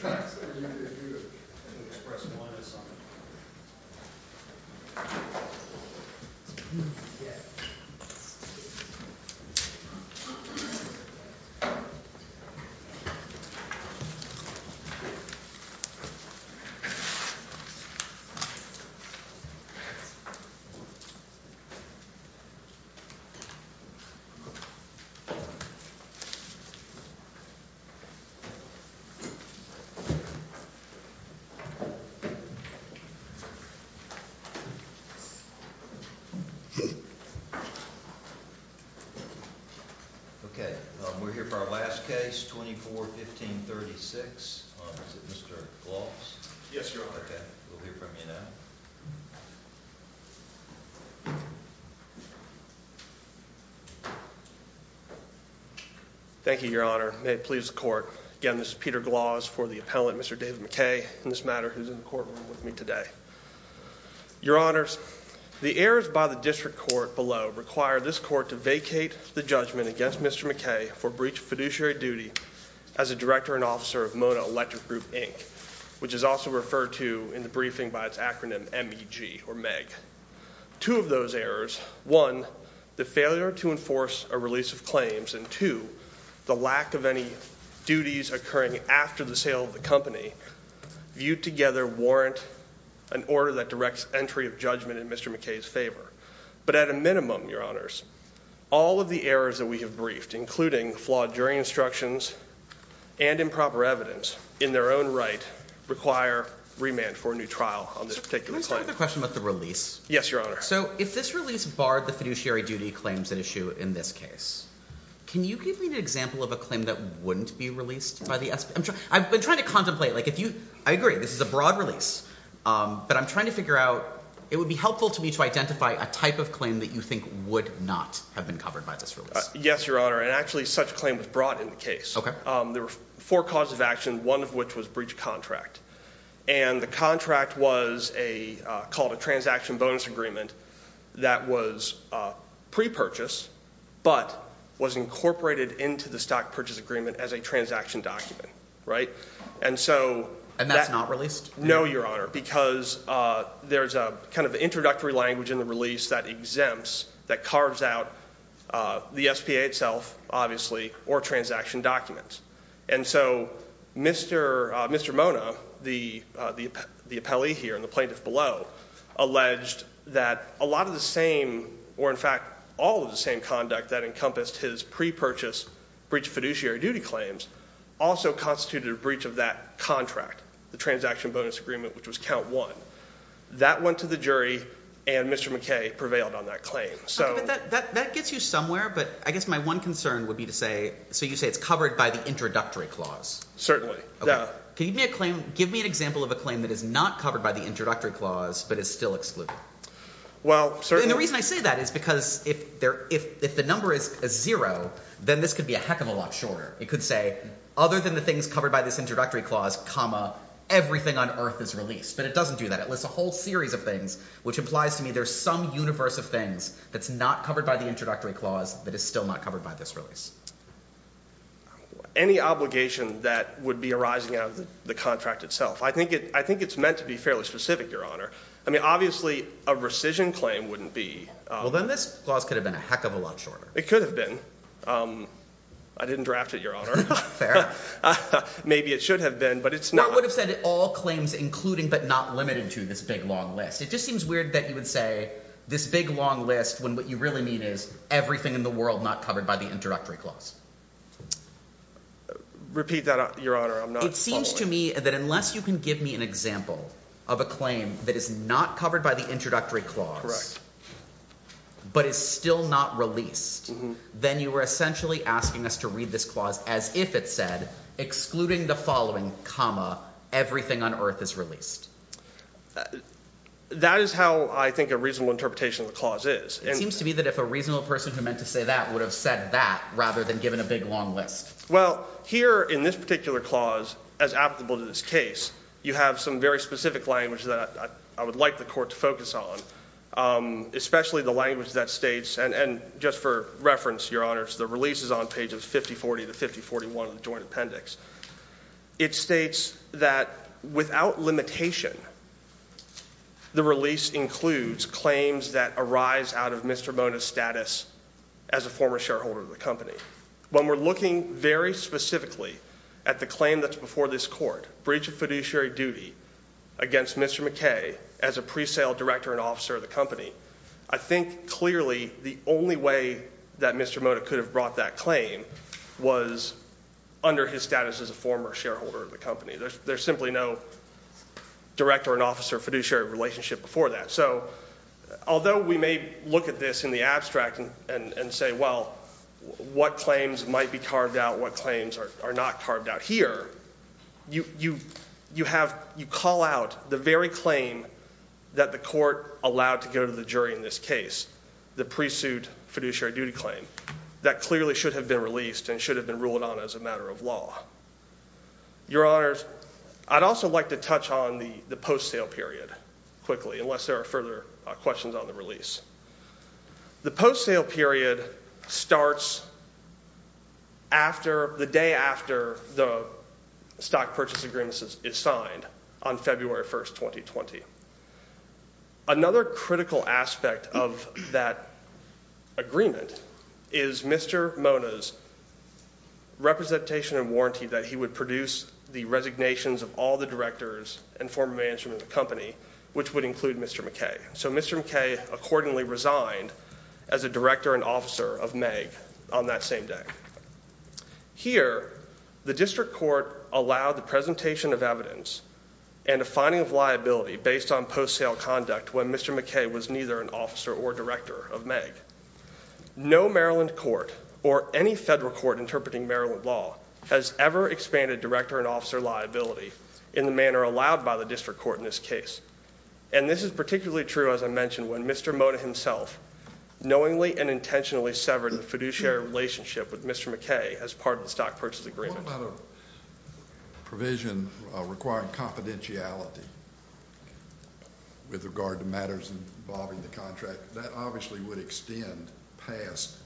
Howdy, everybody! Okay, we're here for our last case, 24-15-36, opposite Mr. Gloss. Yes, Your Honor. Okay, we'll hear from you now. Thank you, Your Honor. May it please the Court. Again, this is Peter Gloss for the appellant, Mr. David McKay, in this matter, who's in the courtroom with me today. Your Honors, the errors by the District Court below require this Court to vacate the judgment against Mr. McKay for breach of fiduciary duty as a director and officer of Mono Electric Group, Inc., which is also referred to in the briefing by its acronym MEG, or Meg. Two of those errors, one, the failure to enforce a release of claims, and two, the lack of any duties occurring after the sale of the company viewed together warrant an order that directs entry of judgment in Mr. McKay's favor. But at a minimum, Your Honors, all of the errors that we have briefed, including flawed jury instructions and improper evidence, in their own right require remand for a new trial on this particular claim. Sir, can I start with a question about the release? Yes, Your Honor. So, if this release barred the fiduciary duty claims at issue in this case, can you give me an example of a claim that wouldn't be released by the SBA? I've been trying to contemplate. Like, if you, I agree, this is a broad release, but I'm trying to figure out, it would be helpful to me to identify a type of claim that you think would not have been covered by this release. Yes, Your Honor. And actually, such a claim was brought in the case. There were four causes of action, one of which was breach of contract. And the contract was called a transaction bonus agreement that was pre-purchased, but was incorporated into the stock purchase agreement as a transaction document, right? And so... And that's not released? No, Your Honor, because there's a kind of introductory language in the release that exempts, that carves out the SBA itself, obviously, or transaction documents. And so, Mr. Mona, the appellee here and the plaintiff below, alleged that a lot of the same, or in fact, all of the same conduct that encompassed his pre-purchase breach of fiduciary duty claims, also constituted a breach of that contract, the transaction bonus agreement, which was count one. That went to the jury, and Mr. McKay prevailed on that claim. Okay, but that gets you somewhere, but I guess my one concern would be to say, so you say it's covered by the introductory clause? Certainly. Yeah. Okay. Give me an example of a claim that is not covered by the introductory clause, but is still excluded. Well, certainly... And the reason I say that is because if the number is zero, then this could be a heck of a lot shorter. It could say, other than the things covered by this introductory clause, comma, everything on earth is released. But it doesn't do that. It lists a whole series of things, which implies to me there's some universe of things that's not covered by the introductory clause that is still not covered by this release. Any obligation that would be arising out of the contract itself. I think it's meant to be fairly specific, Your Honor. I mean, obviously, a rescission claim wouldn't be... Well, then this clause could have been a heck of a lot shorter. It could have been. I didn't draft it, Your Honor. Fair. Maybe it should have been, but it's not... I would have said all claims including, but not limited to, this big long list. It just seems weird that you would say this big long list when what you really mean is everything in the world not covered by the introductory clause. Repeat that, Your Honor. I'm not following. It seems to me that unless you can give me an example of a claim that is not covered by the introductory clause, but is still not released, then you are essentially asking us to read this clause as if it said, excluding the following, comma, everything on earth is released. That is how I think a reasonable interpretation of the clause is. It seems to me that if a reasonable person who meant to say that would have said that rather than given a big long list. Well, here in this particular clause, as applicable to this case, you have some very specific language that I would like the court to focus on, especially the language that states, and just for reference, Your Honors, the release is on pages 5040 to 5041 of the Joint Appendix. It states that without limitation, the release includes claims that arise out of Mr. Mona's status as a former shareholder of the company. When we're looking very specifically at the claim that's before this court, breach of fiduciary duty against Mr. McKay as a pre-sale director and officer of the company, I think clearly the only way that Mr. Mona could have brought that claim was under his status as a former shareholder of the company. There's simply no director and officer fiduciary relationship before that. So although we may look at this in the abstract and say, well, what claims might be carved out, what claims are not carved out here, you call out the very claim that the court allowed to go to the jury in this case, the pre-suit fiduciary duty claim, that clearly should have been released and should have been ruled on as a matter of law. Your Honors, I'd also like to touch on the post-sale period quickly, unless there are further questions on the release. The post-sale period starts the day after the stock purchase agreement is signed on February 1st, 2020. Another critical aspect of that agreement is Mr. Mona's representation and warranty that he would produce the resignations of all the directors and former management of the company, which would include Mr. McKay. So Mr. McKay accordingly resigned as a director and officer of Meg on that same day. Here, the district court allowed the presentation of evidence and a finding of liability based on post-sale conduct when Mr. McKay was neither an officer or director of Meg. No Maryland court or any federal court interpreting Maryland law has ever expanded director and officer liability in the manner allowed by the district court in this case. And this is particularly true, as I mentioned, when Mr. Mona himself knowingly and intentionally severed the fiduciary relationship with Mr. McKay as part of the stock purchase agreement. What about a provision requiring confidentiality with regard to matters involving the contract? That obviously would extend past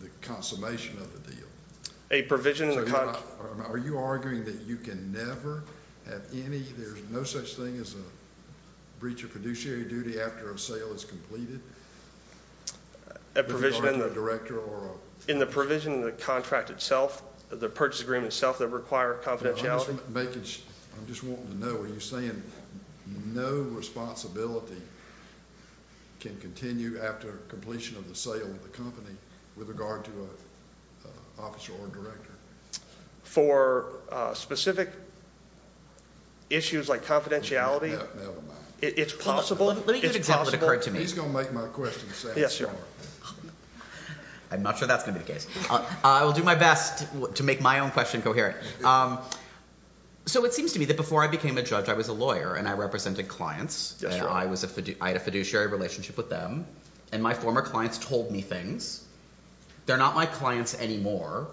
the consummation of the deal. A provision in the contract? Are you arguing that you can never have any, there's no such thing as a breach of fiduciary duty after a sale is completed? A provision in the contract itself, the purchase agreement itself that require confidentiality? I'm just wanting to know, are you saying no responsibility can continue after completion of the sale of the company with regard to an officer or director? For specific issues like confidentiality, it's possible. Let me give an example that occurred to me. He's going to make my question sound short. I'm not sure that's going to be the case. I will do my best to make my own question coherent. So it seems to me that before I became a judge, I was a lawyer and I represented clients. I had a fiduciary relationship with them. And my former clients told me things. They're not my clients anymore.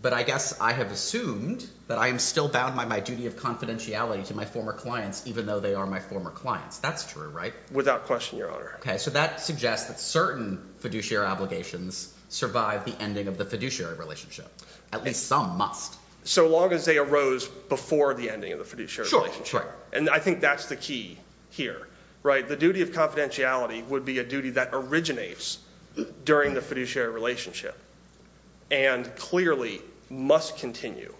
But I guess I have assumed that I am still bound by my duty of confidentiality to my former clients, even though they are my former clients. That's true, right? Without question, Your Honor. Okay, so that suggests that certain fiduciary obligations survive the ending of the fiduciary relationship. At least some must. So long as they arose before the ending of the fiduciary relationship. Sure, sure. And I think that's the key here, right? The duty of confidentiality would be a duty that originates during the fiduciary relationship and clearly must continue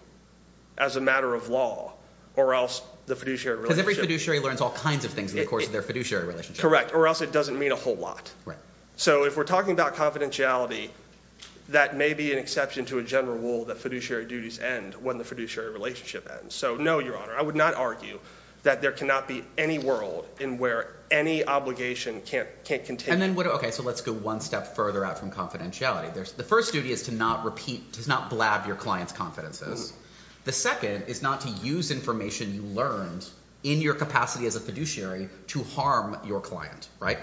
as a matter of law or else the fiduciary relationship Because every fiduciary learns all kinds of things in the course of their fiduciary relationship. Correct, or else it doesn't mean a whole lot. So if we're talking about confidentiality, that may be an exception to a general rule that fiduciary duties end when the fiduciary relationship ends. So no, Your Honor, I would not argue that there cannot be any world in where any obligation can't continue. Okay, so let's go one step further out from confidentiality. The first duty is to not blab your client's confidences. The second is not to use information you learned in your capacity as a fiduciary to harm your client, right?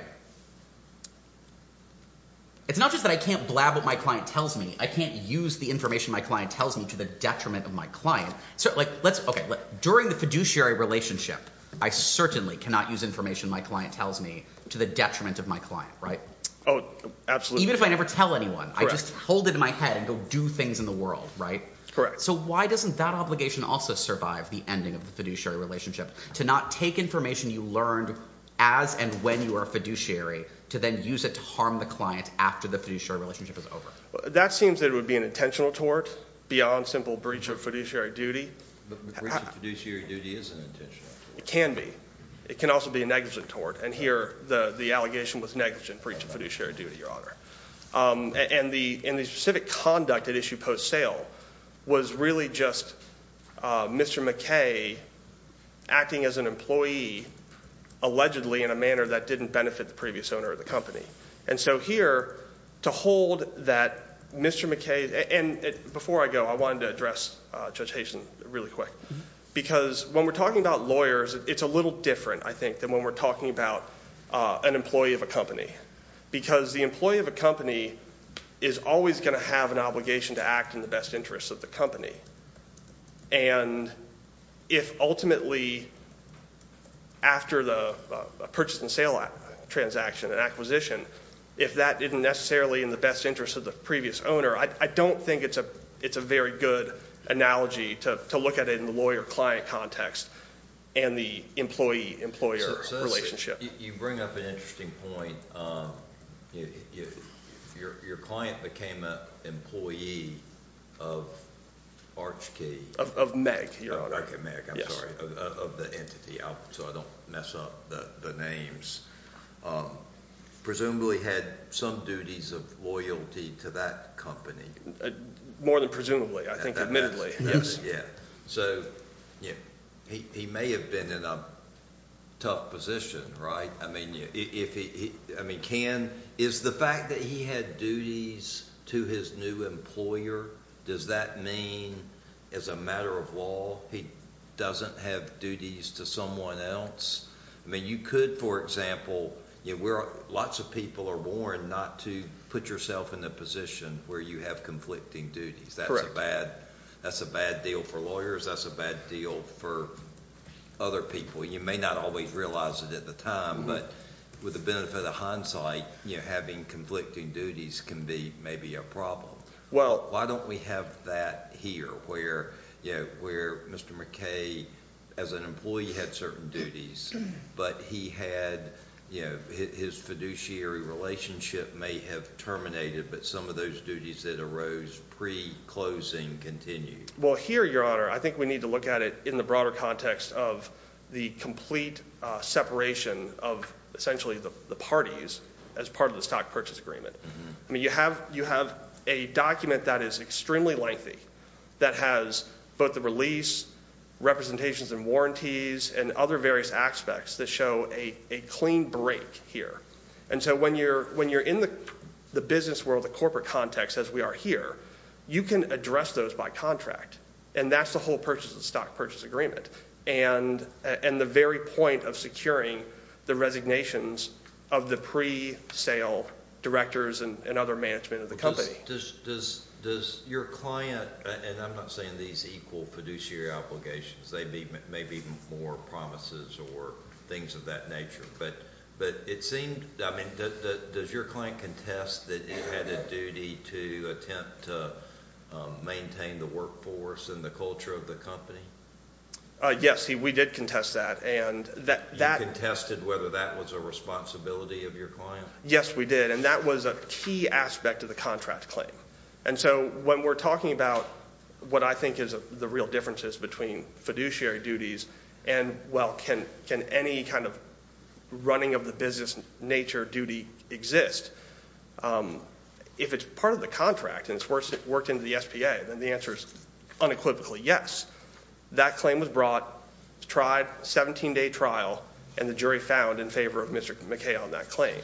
It's not just that I can't blab what my client tells me. I can't use the information my client tells me to the detriment of my client. During the fiduciary relationship, I certainly cannot use information my client tells me to the detriment of my client, right? Oh, absolutely. Even if I never tell anyone, I just hold it in my head and go do things in the world, right? Correct. So why doesn't that obligation also survive the ending of the fiduciary relationship, to not take information you learned as and when you were a fiduciary, to then use it to harm the client after the fiduciary relationship is over? That seems that it would be an intentional tort beyond simple breach of fiduciary duty. But breach of fiduciary duty isn't intentional. It can be. It can also be a negligent tort, and here the allegation was negligent breach of fiduciary duty, Your Honor. And the specific conduct at issue post sale was really just Mr. McKay acting as an employee allegedly in a manner that didn't benefit the previous owner of the company. And so here, to hold that Mr. McKay, and before I go, I wanted to address Judge Hayson really quick. Because when we're talking about lawyers, it's a little different, I think, than when we're talking about an employee of a company. Because the employee of a company is always going to have an obligation to act in the best interest of the company. And if ultimately, after the purchase and sale transaction and acquisition, if that isn't necessarily in the best interest of the previous owner, I don't think it's a very good analogy to look at it in the lawyer-client context and the employee-employer relationship. You bring up an interesting point. Your client became an employee of Archkey. Of Meg, Your Honor. Oh, okay, Meg. I'm sorry. Of the entity, so I don't mess up the names. Presumably had some duties of loyalty to that company. More than presumably, I think admittedly. Yes, yeah. So he may have been in a tough position, right? I mean, is the fact that he had duties to his new employer, does that mean as a matter of law he doesn't have duties to someone else? I mean, you could, for example, lots of people are warned not to put yourself in a position where you have conflicting duties. Correct. That's a bad deal for lawyers. That's a bad deal for other people. You may not always realize it at the time, but with the benefit of hindsight, having conflicting duties can be maybe a problem. Well, why don't we have that here where Mr. McKay, as an employee, had certain duties, but he had, you know, his fiduciary relationship may have terminated, but some of those duties that arose pre-closing continued. Well, here, Your Honor, I think we need to look at it in the broader context of the complete separation of essentially the parties as part of the stock purchase agreement. I mean, you have a document that is extremely lengthy that has both the release, representations and warranties, and other various aspects that show a clean break here. And so when you're in the business world, the corporate context, as we are here, you can address those by contract, and that's the whole purchase of the stock purchase agreement, and the very point of securing the resignations of the pre-sale directors and other management of the company. Does your client, and I'm not saying these equal fiduciary obligations. They may be more promises or things of that nature. But it seemed, I mean, does your client contest that you had a duty to attempt to maintain the workforce and the culture of the company? Yes, we did contest that. You contested whether that was a responsibility of your client? Yes, we did, and that was a key aspect of the contract claim. And so when we're talking about what I think is the real differences between fiduciary duties and, well, can any kind of running of the business nature duty exist, if it's part of the contract and it's worked into the SPA, then the answer is unequivocally yes. That claim was brought, tried, 17-day trial, and the jury found in favor of Mr. McKay on that claim.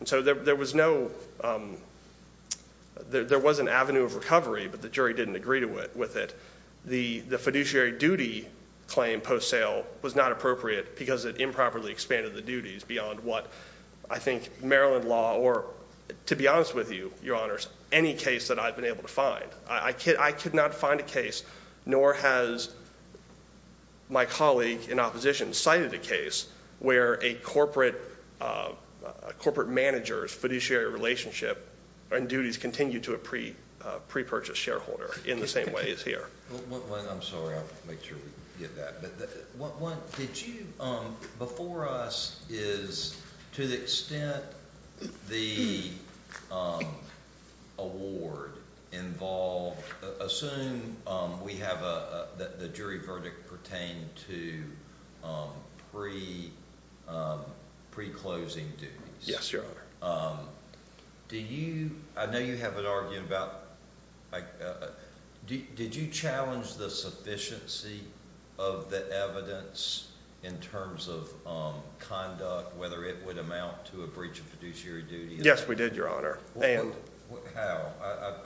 And so there was no, there was an avenue of recovery, but the jury didn't agree with it. The fiduciary duty claim post-sale was not appropriate because it improperly expanded the duties beyond what I think Maryland law, or to be honest with you, your honors, any case that I've been able to find. I could not find a case, nor has my colleague in opposition cited a case, where a corporate manager's fiduciary relationship and duties continue to a pre-purchase shareholder in the same way as here. I'm sorry, I'll make sure we get that. What did you, before us is to the extent the award involved, assume we have a, the jury verdict pertained to pre-closing duties. Yes, your honor. Do you, I know you have an argument about, did you challenge the sufficiency of the evidence in terms of conduct, whether it would amount to a breach of fiduciary duty? Yes, we did, your honor. And? How?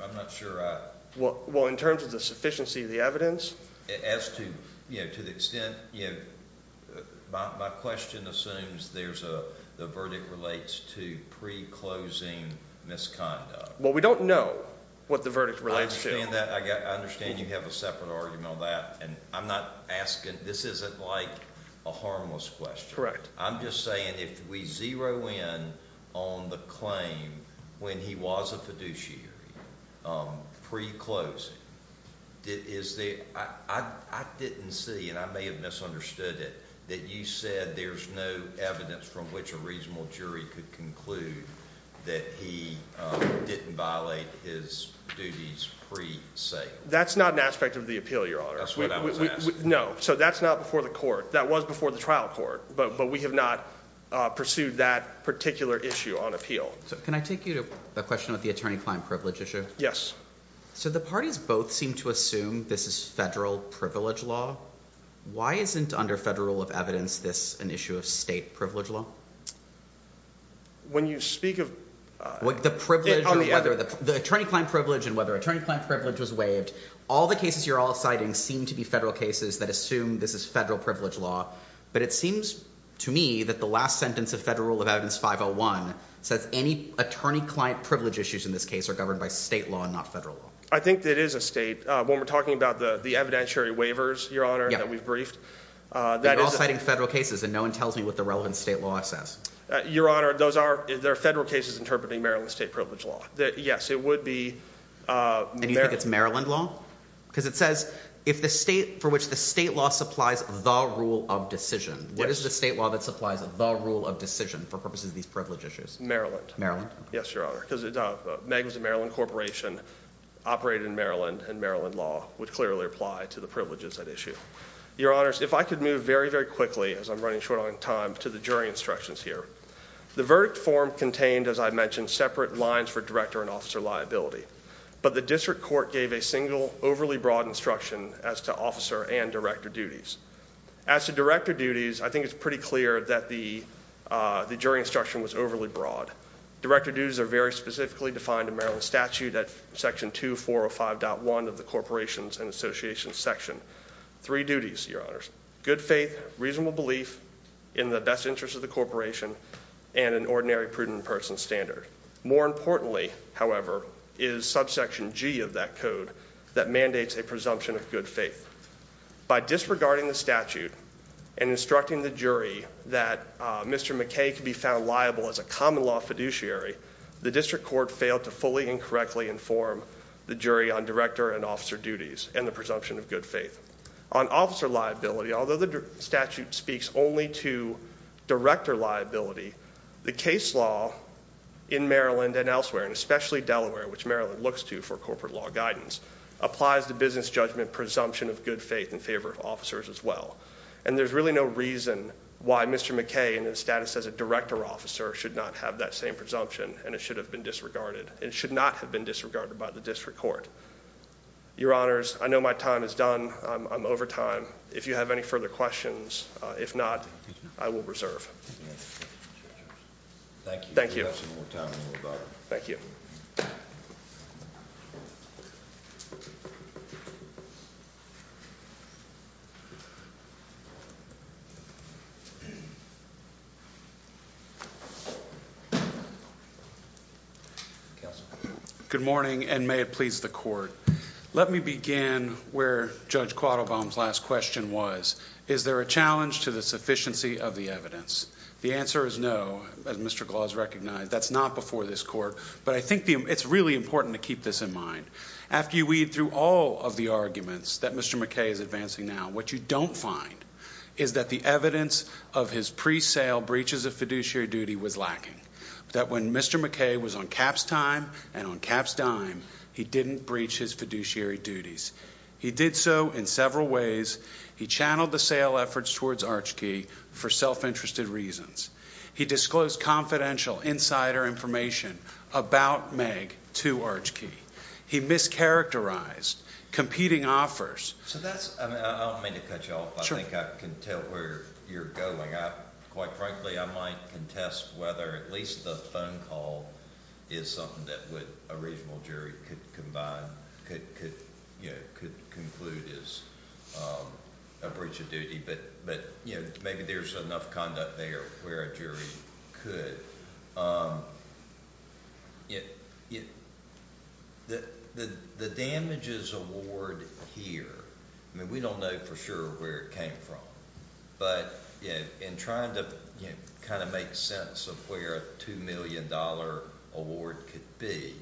I'm not sure I. Well, in terms of the sufficiency of the evidence. As to, you know, to the extent, you know, my question assumes there's a, the verdict relates to pre-closing misconduct. Well, we don't know what the verdict relates to. I understand that, I understand you have a separate argument on that, and I'm not asking, this isn't like a harmless question. Correct. I'm just saying if we zero in on the claim when he was a fiduciary, pre-closing, is the, I didn't see, and I may have misunderstood it, that you said there's no evidence from which a reasonable jury could conclude that he didn't violate his duties pre-sale. That's not an aspect of the appeal, your honor. That's what I was asking. No, so that's not before the court. That was before the trial court, but we have not pursued that particular issue on appeal. Can I take you to the question of the attorney-client privilege issue? Yes. So the parties both seem to assume this is federal privilege law. Why isn't under federal rule of evidence this an issue of state privilege law? When you speak of. The attorney-client privilege and whether attorney-client privilege was waived, all the cases you're all citing seem to be federal cases that assume this is federal privilege law, but it seems to me that the last sentence of federal rule of evidence 501 says any attorney-client privilege issues in this case are governed by state law and not federal law. I think it is a state. When we're talking about the evidentiary waivers, your honor, that we've briefed. You're all citing federal cases and no one tells me what the relevant state law says. Your honor, those are there are federal cases interpreting Maryland state privilege law that yes, it would be. And you think it's Maryland law? Because it says if the state for which the state law supplies the rule of decision. What is the state law that supplies the rule of decision for purposes of these privilege issues? Maryland. Yes, your honor. Because it was a Maryland corporation operated in Maryland and Maryland law would clearly apply to the privileges that issue. Your honors, if I could move very, very quickly as I'm running short on time to the jury instructions here. The verdict form contained, as I mentioned, separate lines for director and officer liability. But the district court gave a single overly broad instruction as to officer and director duties. As to director duties, I think it's pretty clear that the jury instruction was overly broad. Director duties are very specifically defined in Maryland statute at section 2405.1 of the corporations and associations section. Three duties, your honors. Good faith, reasonable belief in the best interest of the corporation, and an ordinary prudent person standard. More importantly, however, is subsection G of that code that mandates a presumption of good faith. By disregarding the statute and instructing the jury that Mr. McKay could be found liable as a common law fiduciary, the district court failed to fully and correctly inform the jury on director and officer duties and the presumption of good faith. On officer liability, although the statute speaks only to director liability, the case law in Maryland and elsewhere, and especially Delaware, which Maryland looks to for corporate law guidance, applies the business judgment presumption of good faith in favor of officers as well. And there's really no reason why Mr. McKay in his status as a director officer should not have that same presumption, and it should not have been disregarded by the district court. Your honors, I know my time is done. I'm over time. If you have any further questions, if not, I will reserve. Thank you. Thank you. Thank you. Good morning, and may it please the court. Let me begin where Judge Quattlebaum's last question was. Is there a challenge to the sufficiency of the evidence? The answer is no, as Mr. Gloss recognized. That's not before this court, but I think it's really important to keep this in mind. After you weed through all of the arguments that Mr. McKay is advancing now, what you don't find is that the evidence of his pre-sale breaches of fiduciary duty was lacking, that when Mr. McKay was on cap's time and on cap's dime, he didn't breach his fiduciary duties. He did so in several ways. He channeled the sale efforts towards Archkey for self-interested reasons. He disclosed confidential insider information about Meg to Archkey. He mischaracterized competing offers. I don't mean to cut you off, but I think I can tell where you're going. Quite frankly, I might contest whether at least the phone call is something that a regional jury could combine, could conclude as a breach of duty, but maybe there's enough conduct there where a jury could. The damages award here, I mean we don't know for sure where it came from, but in trying to kind of make sense of where a $2 million award could be,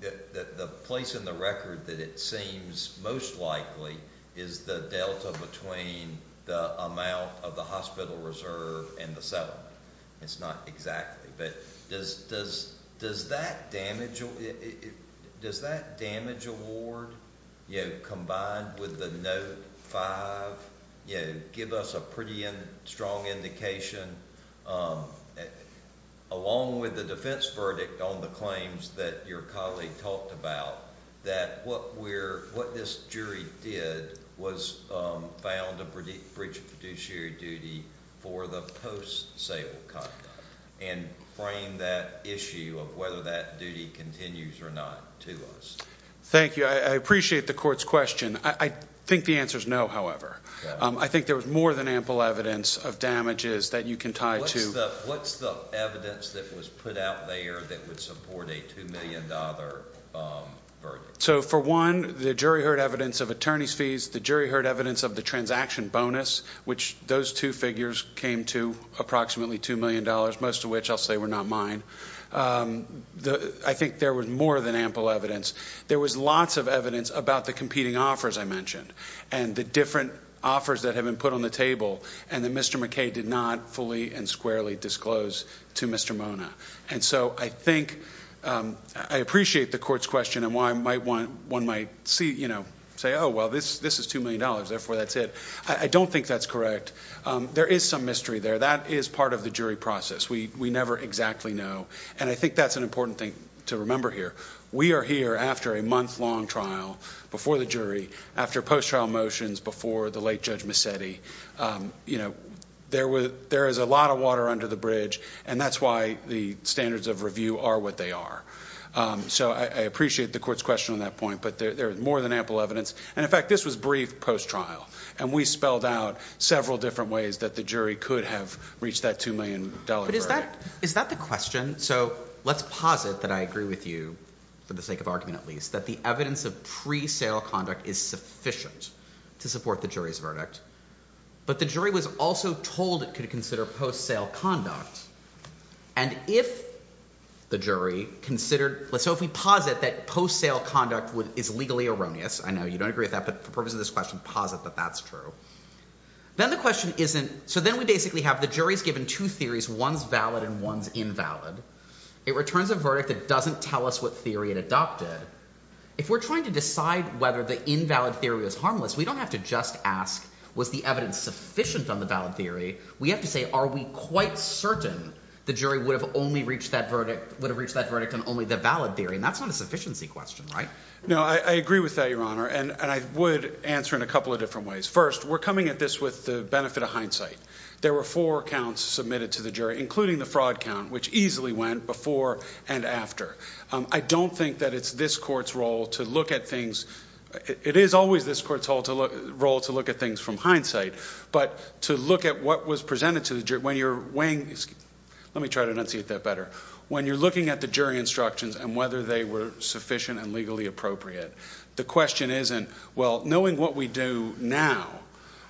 the place in the record that it seems most likely is the delta between the amount of the hospital reserve and the settlement. It's not exactly, but does that damage award combined with the Note 5 give us a pretty strong indication, along with the defense verdict on the claims that your colleague talked about, that what this jury did was found a breach of fiduciary duty for the post-sale conduct and frame that issue of whether that duty continues or not to us? Thank you. I appreciate the court's question. I think the answer is no, however. I think there was more than ample evidence of damages that you can tie to. What's the evidence that was put out there that would support a $2 million verdict? So for one, the jury heard evidence of attorney's fees. The jury heard evidence of the transaction bonus, which those two figures came to approximately $2 million, most of which I'll say were not mine. I think there was more than ample evidence. There was lots of evidence about the competing offers I mentioned and the different offers that have been put on the table and that Mr. McKay did not fully and squarely disclose to Mr. Mona. And so I think I appreciate the court's question and why one might say, oh, well, this is $2 million, therefore that's it. I don't think that's correct. There is some mystery there. That is part of the jury process. We never exactly know. And I think that's an important thing to remember here. We are here after a month-long trial before the jury, after post-trial motions before the late Judge Mazzetti. There is a lot of water under the bridge, and that's why the standards of review are what they are. So I appreciate the court's question on that point, but there is more than ample evidence. And, in fact, this was briefed post-trial, and we spelled out several different ways that the jury could have reached that $2 million verdict. But is that the question? So let's posit that I agree with you, for the sake of argument at least, that the evidence of pre-sale conduct is sufficient to support the jury's verdict. But the jury was also told it could consider post-sale conduct. And if the jury considered, so if we posit that post-sale conduct is legally erroneous, I know you don't agree with that, but for the purpose of this question, posit that that's true. Then the question isn't, so then we basically have the jury's given two theories. One's valid and one's invalid. It returns a verdict that doesn't tell us what theory it adopted. If we're trying to decide whether the invalid theory is harmless, we don't have to just ask, was the evidence sufficient on the valid theory? We have to say, are we quite certain the jury would have reached that verdict on only the valid theory? And that's not a sufficiency question, right? No, I agree with that, Your Honor, and I would answer in a couple of different ways. First, we're coming at this with the benefit of hindsight. There were four counts submitted to the jury, including the fraud count, which easily went before and after. I don't think that it's this court's role to look at things. It is always this court's role to look at things from hindsight. But to look at what was presented to the jury, when you're weighing, let me try to enunciate that better. When you're looking at the jury instructions and whether they were sufficient and legally appropriate, the question isn't, well, knowing what we do now,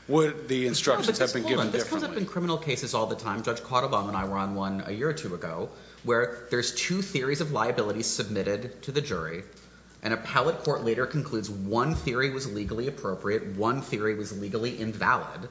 would the instructions have been given differently? Hold on. This comes up in criminal cases all the time. Judge Cautabon and I were on one a year or two ago, where there's two theories of liability submitted to the jury, and a pallet court later concludes one theory was legally appropriate, one theory was legally invalid.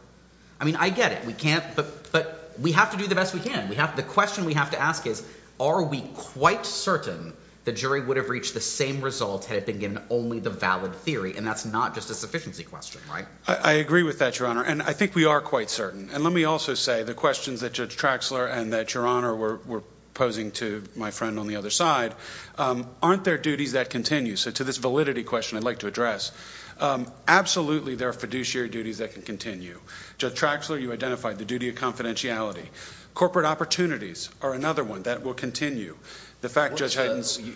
I mean, I get it. We can't – but we have to do the best we can. The question we have to ask is, are we quite certain the jury would have reached the same result had it been given only the valid theory, and that's not just a sufficiency question, right? I agree with that, Your Honor, and I think we are quite certain. And let me also say the questions that Judge Traxler and that Your Honor were posing to my friend on the other side, aren't there duties that continue? So to this validity question I'd like to address, absolutely there are fiduciary duties that can continue. Judge Traxler, you identified the duty of confidentiality. Corporate opportunities are another one that will continue.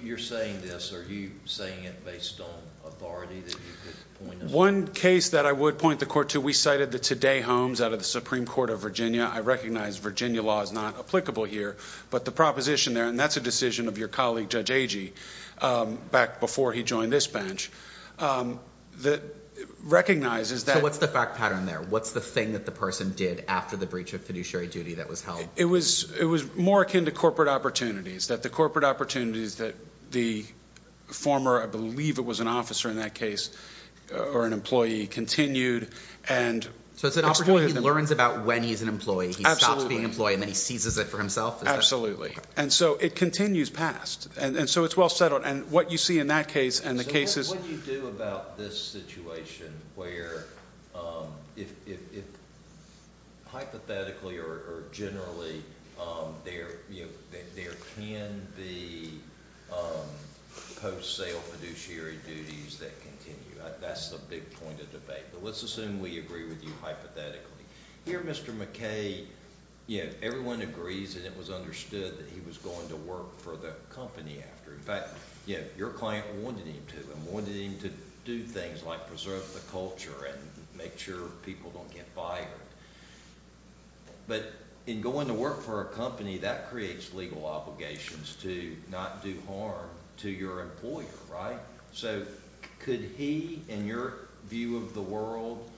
You're saying this, are you saying it based on authority that you could point us to? One case that I would point the court to, we cited the Today Homes out of the Supreme Court of Virginia. I recognize Virginia law is not applicable here, but the proposition there, and that's a decision of your colleague, Judge Agee, back before he joined this bench, recognizes that – So what's the fact pattern there? What's the thing that the person did after the breach of fiduciary duty that was held? It was more akin to corporate opportunities, that the corporate opportunities that the former, I believe it was an officer in that case or an employee, continued and – So it's an opportunity he learns about when he's an employee. He stops being an employee and then he seizes it for himself? Absolutely. And so it continues past. And so it's well settled. And what you see in that case and the cases – there can be post-sale fiduciary duties that continue. That's the big point of debate. But let's assume we agree with you hypothetically. Here, Mr. McKay, everyone agrees that it was understood that he was going to work for the company after. In fact, your client wanted him to. He wanted him to do things like preserve the culture and make sure people don't get fired. But in going to work for a company, that creates legal obligations to not do harm to your employer, right? So could he, in your view of the world,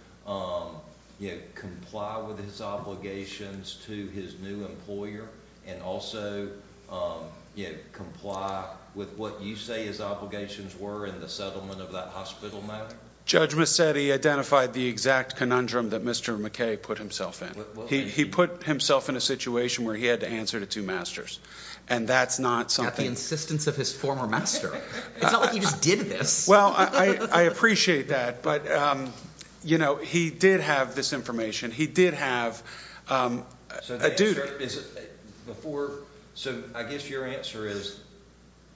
comply with his obligations to his new employer and also comply with what you say his obligations were in the settlement of that hospital matter? Judge Massetti identified the exact conundrum that Mr. McKay put himself in. He put himself in a situation where he had to answer to two masters. And that's not something – Not the insistence of his former master. It's not like he just did this. Well, I appreciate that. But he did have this information. He did have a duty. So I guess your answer is,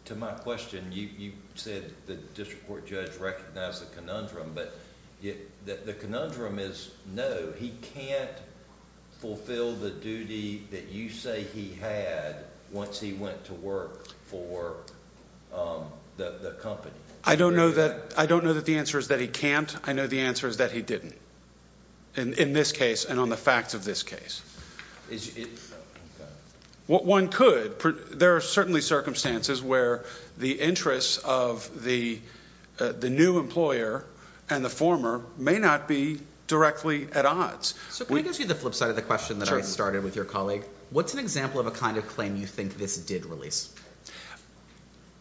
to my question, you said the district court judge recognized the conundrum. But the conundrum is no, he can't fulfill the duty that you say he had once he went to work for the company. I don't know that the answer is that he can't. I know the answer is that he didn't in this case and on the facts of this case. One could. There are certainly circumstances where the interests of the new employer and the former may not be directly at odds. So can I ask you the flip side of the question that I started with your colleague? What's an example of a kind of claim you think this did release?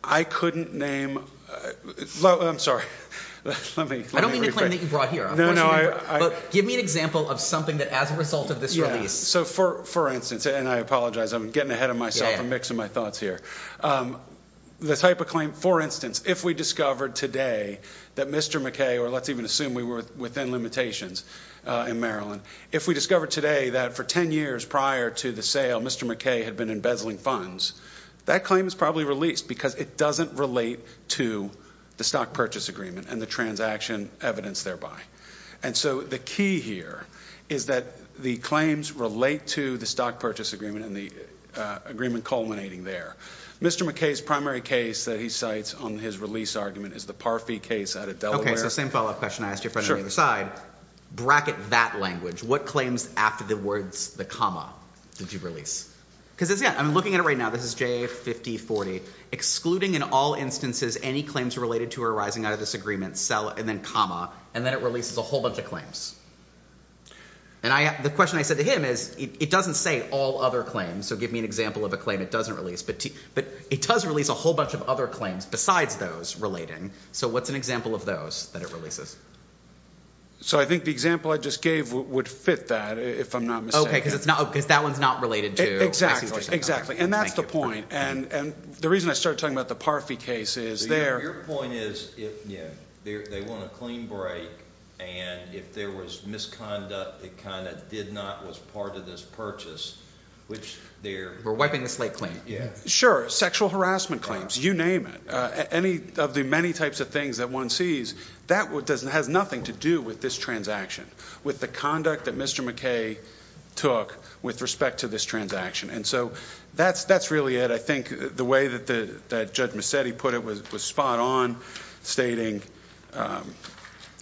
I couldn't name – I'm sorry. I don't mean the claim that you brought here. Give me an example of something that as a result of this release. So for instance – and I apologize. I'm getting ahead of myself. I'm mixing my thoughts here. The type of claim – for instance, if we discovered today that Mr. McKay – or let's even assume we were within limitations in Maryland. If we discovered today that for ten years prior to the sale, Mr. McKay had been embezzling funds, that claim is probably released. Because it doesn't relate to the stock purchase agreement and the transaction evidence thereby. And so the key here is that the claims relate to the stock purchase agreement and the agreement culminating there. Mr. McKay's primary case that he cites on his release argument is the Parfee case out of Delaware. Okay, so same follow-up question I asked your friend on the other side. Bracket that language. What claims after the words – the comma – did you release? Because I'm looking at it right now. This is JA 5040. Excluding in all instances any claims related to or arising out of this agreement, and then comma, and then it releases a whole bunch of claims. And the question I said to him is it doesn't say all other claims. So give me an example of a claim it doesn't release. But it does release a whole bunch of other claims besides those relating. So what's an example of those that it releases? So I think the example I just gave would fit that if I'm not mistaken. Okay, because that one's not related to – And that's the point. And the reason I started talking about the Parfee case is there – Your point is if they want a clean break and if there was misconduct that kind of did not – was part of this purchase, which they're – We're wiping the slate clean. Sure. Sexual harassment claims. You name it. Any of the many types of things that one sees, that has nothing to do with this transaction, with the conduct that Mr. McKay took with respect to this transaction. And so that's really it. I think the way that Judge Massetti put it was spot on, stating,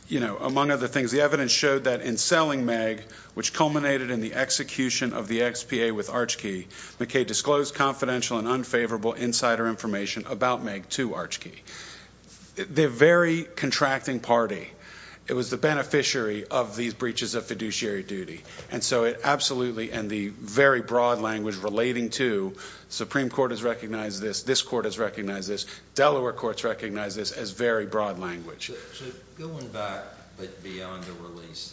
you know, among other things, the evidence showed that in selling Meg, which culminated in the execution of the XPA with Archkey, McKay disclosed confidential and unfavorable insider information about Meg to Archkey. They're a very contracting party. It was the beneficiary of these breaches of fiduciary duty. And so it absolutely – and the very broad language relating to Supreme Court has recognized this, this court has recognized this, Delaware courts recognize this as very broad language. So going back beyond the release,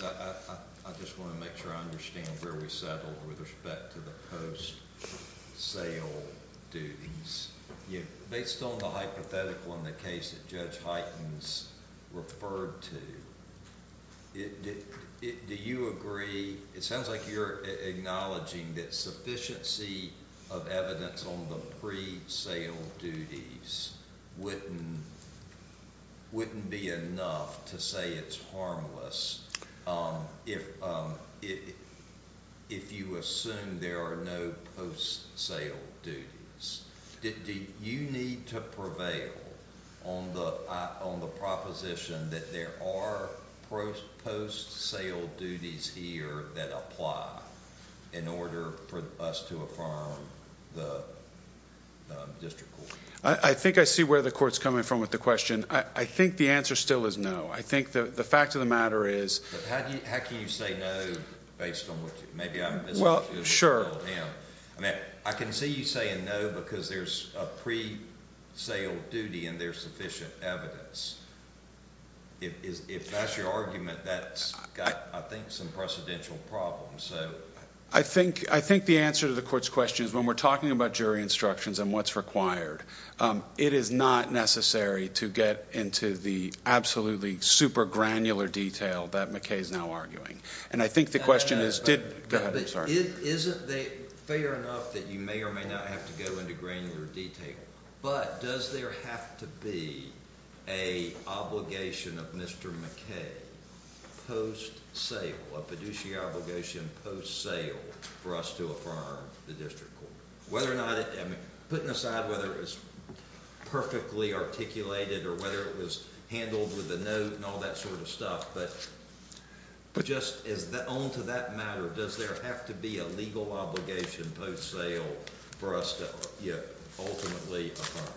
I just want to make sure I understand where we settled with respect to the post-sale duties. Based on the hypothetical in the case that Judge Heitens referred to, do you agree – it sounds like you're acknowledging that sufficiency of evidence on the pre-sale duties wouldn't be enough to say it's harmless if you assume there are no post-sale duties. Do you need to prevail on the proposition that there are post-sale duties here that apply in order for us to affirm the district court? I think I see where the court's coming from with the question. I think the answer still is no. I think the fact of the matter is – How can you say no based on what you – maybe I'm misinterpreting him. I can see you saying no because there's a pre-sale duty and there's sufficient evidence. If that's your argument, that's got, I think, some precedential problems. I think the answer to the court's question is when we're talking about jury instructions and what's required, it is not necessary to get into the absolutely super granular detail that McKay is now arguing. And I think the question is – Isn't it fair enough that you may or may not have to go into granular detail, but does there have to be an obligation of Mr. McKay post-sale, a fiduciary obligation post-sale for us to affirm the district court? Putting aside whether it was perfectly articulated or whether it was handled with a note and all that sort of stuff, but just on to that matter, does there have to be a legal obligation post-sale for us to ultimately affirm?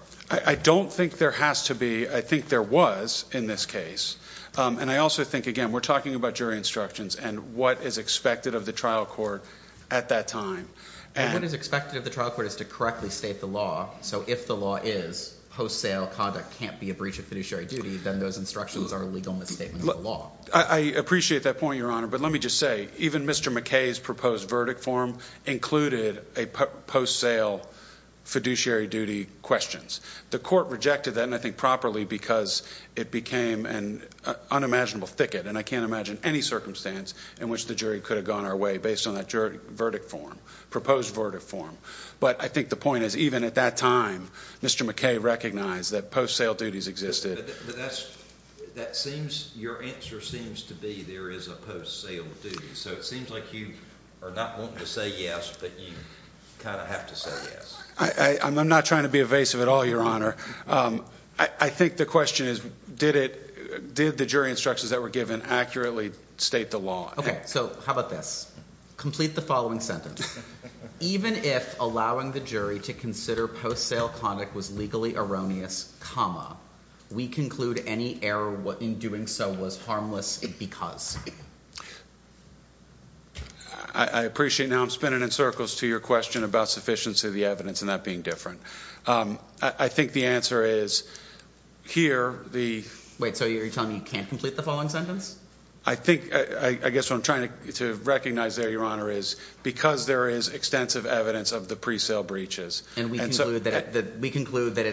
I don't think there has to be. I think there was in this case. And I also think, again, we're talking about jury instructions and what is expected of the trial court at that time. And what is expected of the trial court is to correctly state the law. So if the law is post-sale conduct can't be a breach of fiduciary duty, then those instructions are a legal misstatement of the law. I appreciate that point, Your Honor. But let me just say, even Mr. McKay's proposed verdict form included a post-sale fiduciary duty questions. The court rejected that, and I think properly, because it became an unimaginable thicket. And I can't imagine any circumstance in which the jury could have gone our way based on that verdict form, proposed verdict form. But I think the point is, even at that time, Mr. McKay recognized that post-sale duties existed. But that seems – your answer seems to be there is a post-sale duty. So it seems like you are not wanting to say yes, but you kind of have to say yes. I'm not trying to be evasive at all, Your Honor. I think the question is did it – did the jury instructions that were given accurately state the law? Okay. So how about this? Complete the following sentence. Even if allowing the jury to consider post-sale conduct was legally erroneous, comma, we conclude any error in doing so was harmless because. I appreciate now I'm spinning in circles to your question about sufficiency of the evidence and that being different. I think the answer is here the – Wait. So you're telling me you can't complete the following sentence? I think – I guess what I'm trying to recognize there, Your Honor, is because there is extensive evidence of the pre-sale breaches. And we conclude that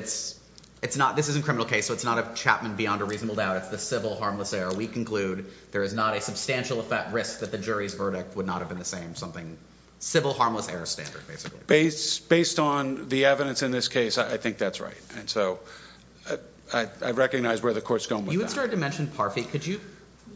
it's not – this is a criminal case, so it's not a Chapman beyond a reasonable doubt. It's the civil harmless error. So we conclude there is not a substantial risk that the jury's verdict would not have been the same, something – civil harmless error standard, basically. Based on the evidence in this case, I think that's right. And so I recognize where the court's going with that. You had started to mention Parfitt. Could you –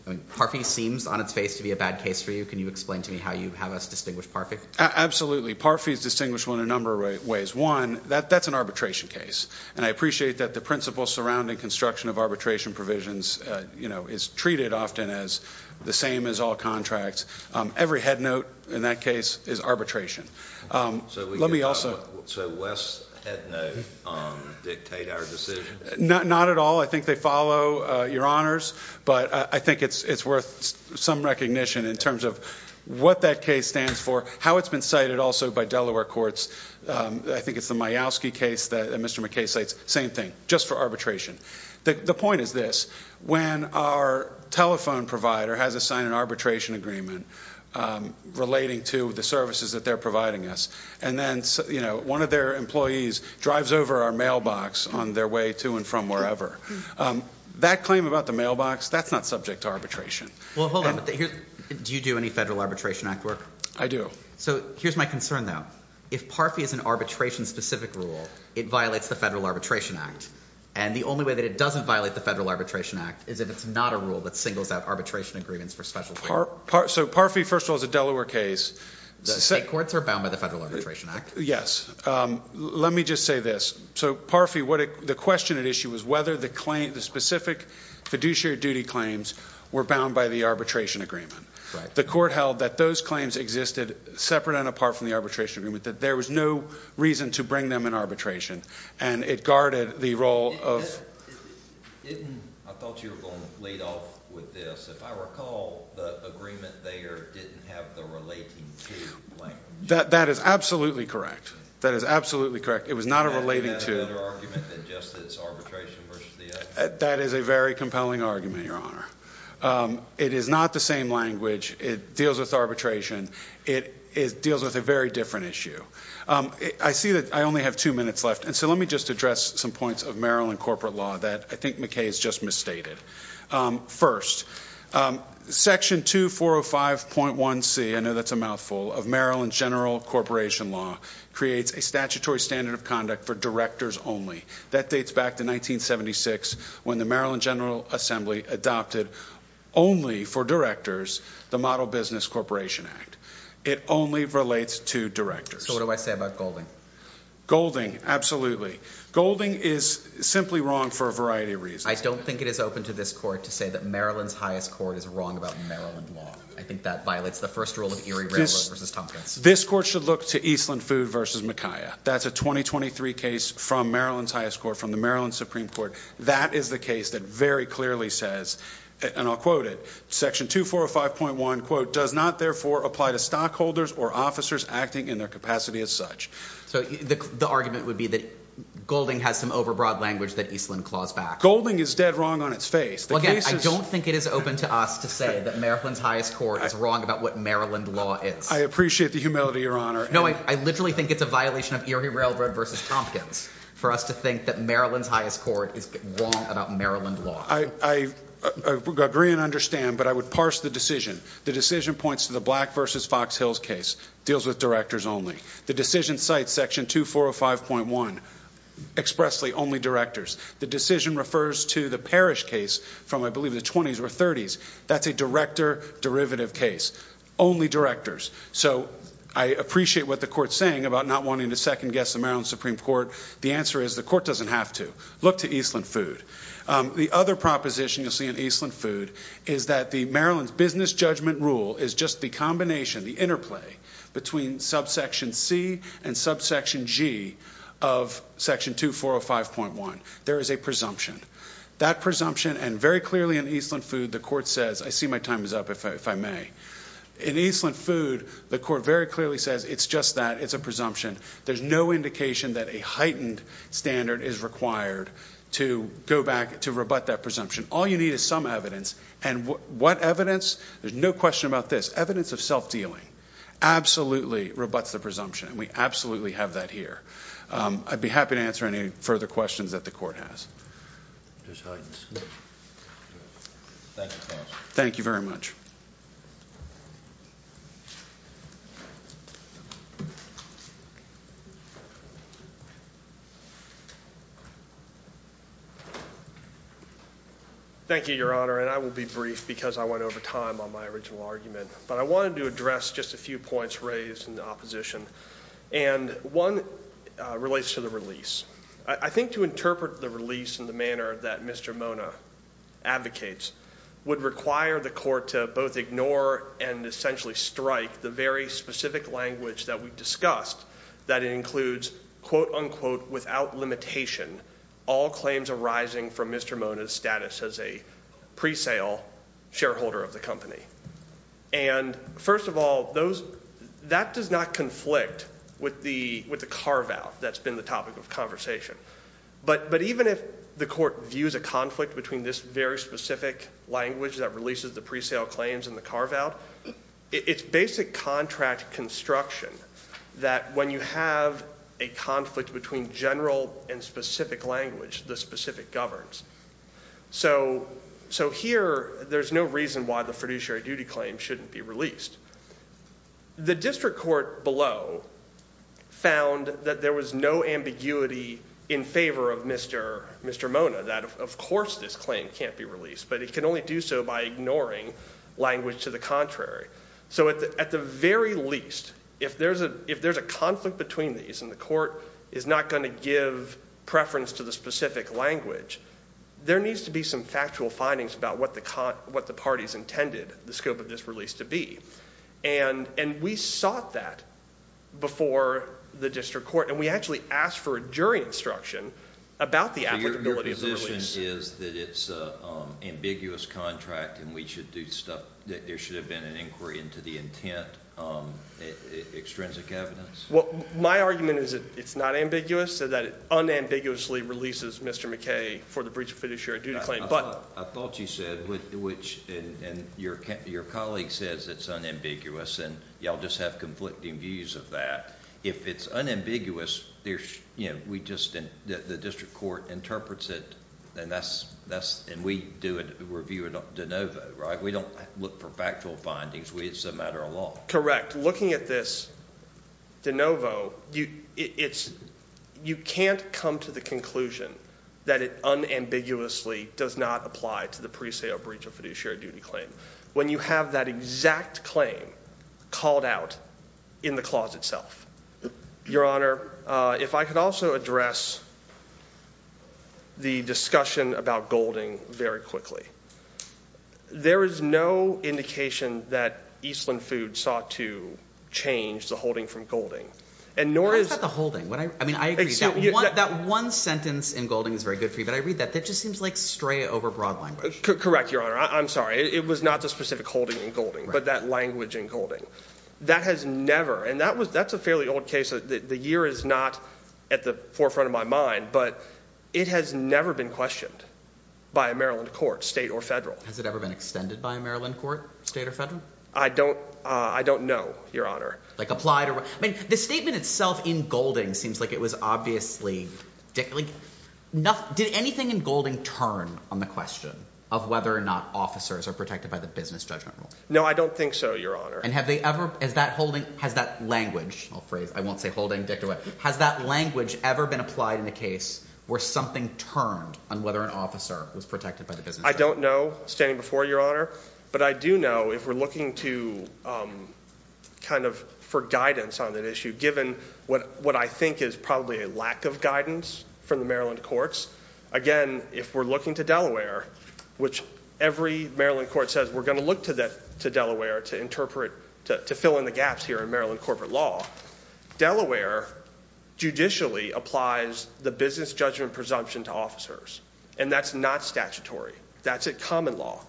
I mean, Parfitt seems on its face to be a bad case for you. Can you explain to me how you have us distinguish Parfitt? Absolutely. Parfitt is distinguishable in a number of ways. One, that's an arbitration case. And I appreciate that the principle surrounding construction of arbitration provisions is treated often as the same as all contracts. Every headnote in that case is arbitration. So we – Let me also – So West's headnote dictate our decision? Not at all. I think they follow, Your Honors. But I think it's worth some recognition in terms of what that case stands for, how it's been cited also by Delaware courts. I think it's the Myowski case that Mr. McKay cites. Same thing, just for arbitration. The point is this. When our telephone provider has assigned an arbitration agreement relating to the services that they're providing us and then one of their employees drives over our mailbox on their way to and from wherever, that claim about the mailbox, that's not subject to arbitration. Well, hold on. Do you do any Federal Arbitration Act work? I do. So here's my concern, though. If PARFI is an arbitration-specific rule, it violates the Federal Arbitration Act. And the only way that it doesn't violate the Federal Arbitration Act is if it's not a rule that singles out arbitration agreements for special claims. So PARFI, first of all, is a Delaware case. State courts are bound by the Federal Arbitration Act. Yes. Let me just say this. So PARFI, the question at issue was whether the specific fiduciary duty claims were bound by the arbitration agreement. Right. The court held that those claims existed separate and apart from the arbitration agreement, that there was no reason to bring them in arbitration, and it guarded the role of ---- I thought you were going to lead off with this. If I recall, the agreement there didn't have the relating to language. That is absolutely correct. That is absolutely correct. It was not a relating to. And you had another argument that just it's arbitration versus the other. That is a very compelling argument, Your Honor. It is not the same language. It deals with arbitration. It deals with a very different issue. I see that I only have two minutes left, and so let me just address some points of Maryland corporate law that I think McKay has just misstated. First, Section 2405.1c, I know that's a mouthful, of Maryland general corporation law creates a statutory standard of conduct for directors only. That dates back to 1976 when the Maryland General Assembly adopted only for directors the Model Business Corporation Act. It only relates to directors. So what do I say about Golding? Golding, absolutely. Golding is simply wrong for a variety of reasons. I don't think it is open to this court to say that Maryland's highest court is wrong about Maryland law. I think that violates the first rule of Erie Railroad versus Tompkins. This court should look to Eastland Food versus McKaya. That's a 2023 case from Maryland's highest court, from the Maryland Supreme Court. That is the case that very clearly says, and I'll quote it, Section 2405.1, quote, does not therefore apply to stockholders or officers acting in their capacity as such. So the argument would be that Golding has some overbroad language that Eastland claws back. Golding is dead wrong on its face. Again, I don't think it is open to us to say that Maryland's highest court is wrong about what Maryland law is. I appreciate the humility, Your Honor. No, I literally think it's a violation of Erie Railroad versus Tompkins for us to think that Maryland's highest court is wrong about Maryland law. I agree and understand, but I would parse the decision. The decision points to the Black versus Fox Hills case, deals with directors only. The decision cites Section 2405.1 expressly, only directors. The decision refers to the Parrish case from, I believe, the 20s or 30s. That's a director derivative case, only directors. So I appreciate what the court's saying about not wanting to second-guess the Maryland Supreme Court. The answer is the court doesn't have to. Look to Eastland Food. The other proposition you'll see in Eastland Food is that the Maryland's business judgment rule is just the combination, the interplay, between subsection C and subsection G of Section 2405.1. There is a presumption. That presumption, and very clearly in Eastland Food, the court says, I see my time is up, if I may. In Eastland Food, the court very clearly says it's just that. It's a presumption. There's no indication that a heightened standard is required to go back to rebut that presumption. All you need is some evidence, and what evidence? There's no question about this. Evidence of self-dealing absolutely rebuts the presumption, and we absolutely have that here. I'd be happy to answer any further questions that the court has. Thank you, counsel. Thank you very much. Thank you, Your Honor, and I will be brief because I went over time on my original argument. But I wanted to address just a few points raised in opposition. And one relates to the release. I think to interpret the release in the manner that Mr. Mona advocates would require the court to both ignore and essentially strike the very specific language that we discussed, that includes, quote, unquote, without limitation, all claims arising from Mr. Mona's status as a presale shareholder of the company. And first of all, that does not conflict with the carve-out that's been the topic of conversation. But even if the court views a conflict between this very specific language that releases the presale claims and the carve-out, it's basic contract construction that when you have a conflict between general and specific language, the specific governs. So here, there's no reason why the fiduciary duty claim shouldn't be released. The district court below found that there was no ambiguity in favor of Mr. Mona, that of course this claim can't be released, but it can only do so by ignoring language to the contrary. So at the very least, if there's a conflict between these and the court is not going to give preference to the specific language, there needs to be some factual findings about what the parties intended the scope of this release to be. And we sought that before the district court, and we actually asked for a jury instruction about the applicability of the release. So your position is that it's an ambiguous contract and we should do stuff, that there should have been an inquiry into the intent, extrinsic evidence? My argument is that it's not ambiguous, so that it unambiguously releases Mr. McKay for the breach of fiduciary duty claim. I thought you said, which your colleague says it's unambiguous, and you all just have conflicting views of that. If it's unambiguous, the district court interprets it, and we do a review de novo, right? We don't look for factual findings. It's a matter of law. Correct. Looking at this de novo, you can't come to the conclusion that it unambiguously does not apply to the presale breach of fiduciary duty claim when you have that exact claim called out in the clause itself. Your Honor, if I could also address the discussion about Golding very quickly. There is no indication that Eastland Foods sought to change the holding from Golding. How is that the holding? I mean, I agree. That one sentence in Golding is very good for you, but I read that, that just seems like stray over broad language. Correct, Your Honor. I'm sorry. It was not the specific holding in Golding, but that language in Golding. That has never, and that's a fairly old case. The year is not at the forefront of my mind, but it has never been questioned by a Maryland court, state or federal. Has it ever been extended by a Maryland court, state or federal? I don't know, Your Honor. Like applied or what? I mean, the statement itself in Golding seems like it was obviously, did anything in Golding turn on the question of whether or not officers are protected by the business judgment rule? No, I don't think so, Your Honor. And have they ever, has that holding, has that language, I won't say holding, has that language ever been applied in a case where something turned on whether an officer was protected by the business judgment? I don't know, standing before you, Your Honor. But I do know if we're looking to kind of for guidance on that issue, given what I think is probably a lack of guidance from the Maryland courts, again, if we're looking to Delaware, which every Maryland court says we're going to look to Delaware to interpret, to fill in the gaps here in Maryland corporate law, Delaware judicially applies the business judgment presumption to officers, and that's not statutory. That's a common law.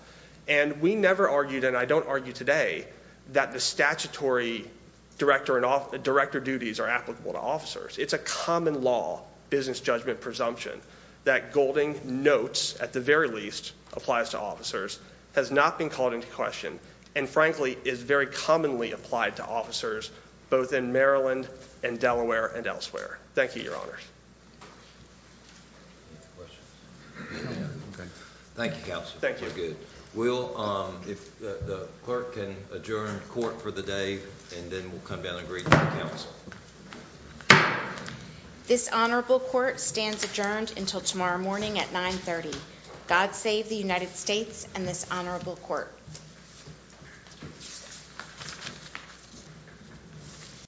And we never argued, and I don't argue today, that the statutory director duties are applicable to officers. It's a common law business judgment presumption that Golding notes, at the very least, applies to officers, has not been called into question, and, frankly, is very commonly applied to officers, both in Maryland and Delaware and elsewhere. Thank you, Your Honors. Thank you, Counsel. Thank you. We'll, if the clerk can adjourn court for the day, and then we'll come down and greet the counsel. This honorable court stands adjourned until tomorrow morning at 930. God save the United States and this honorable court.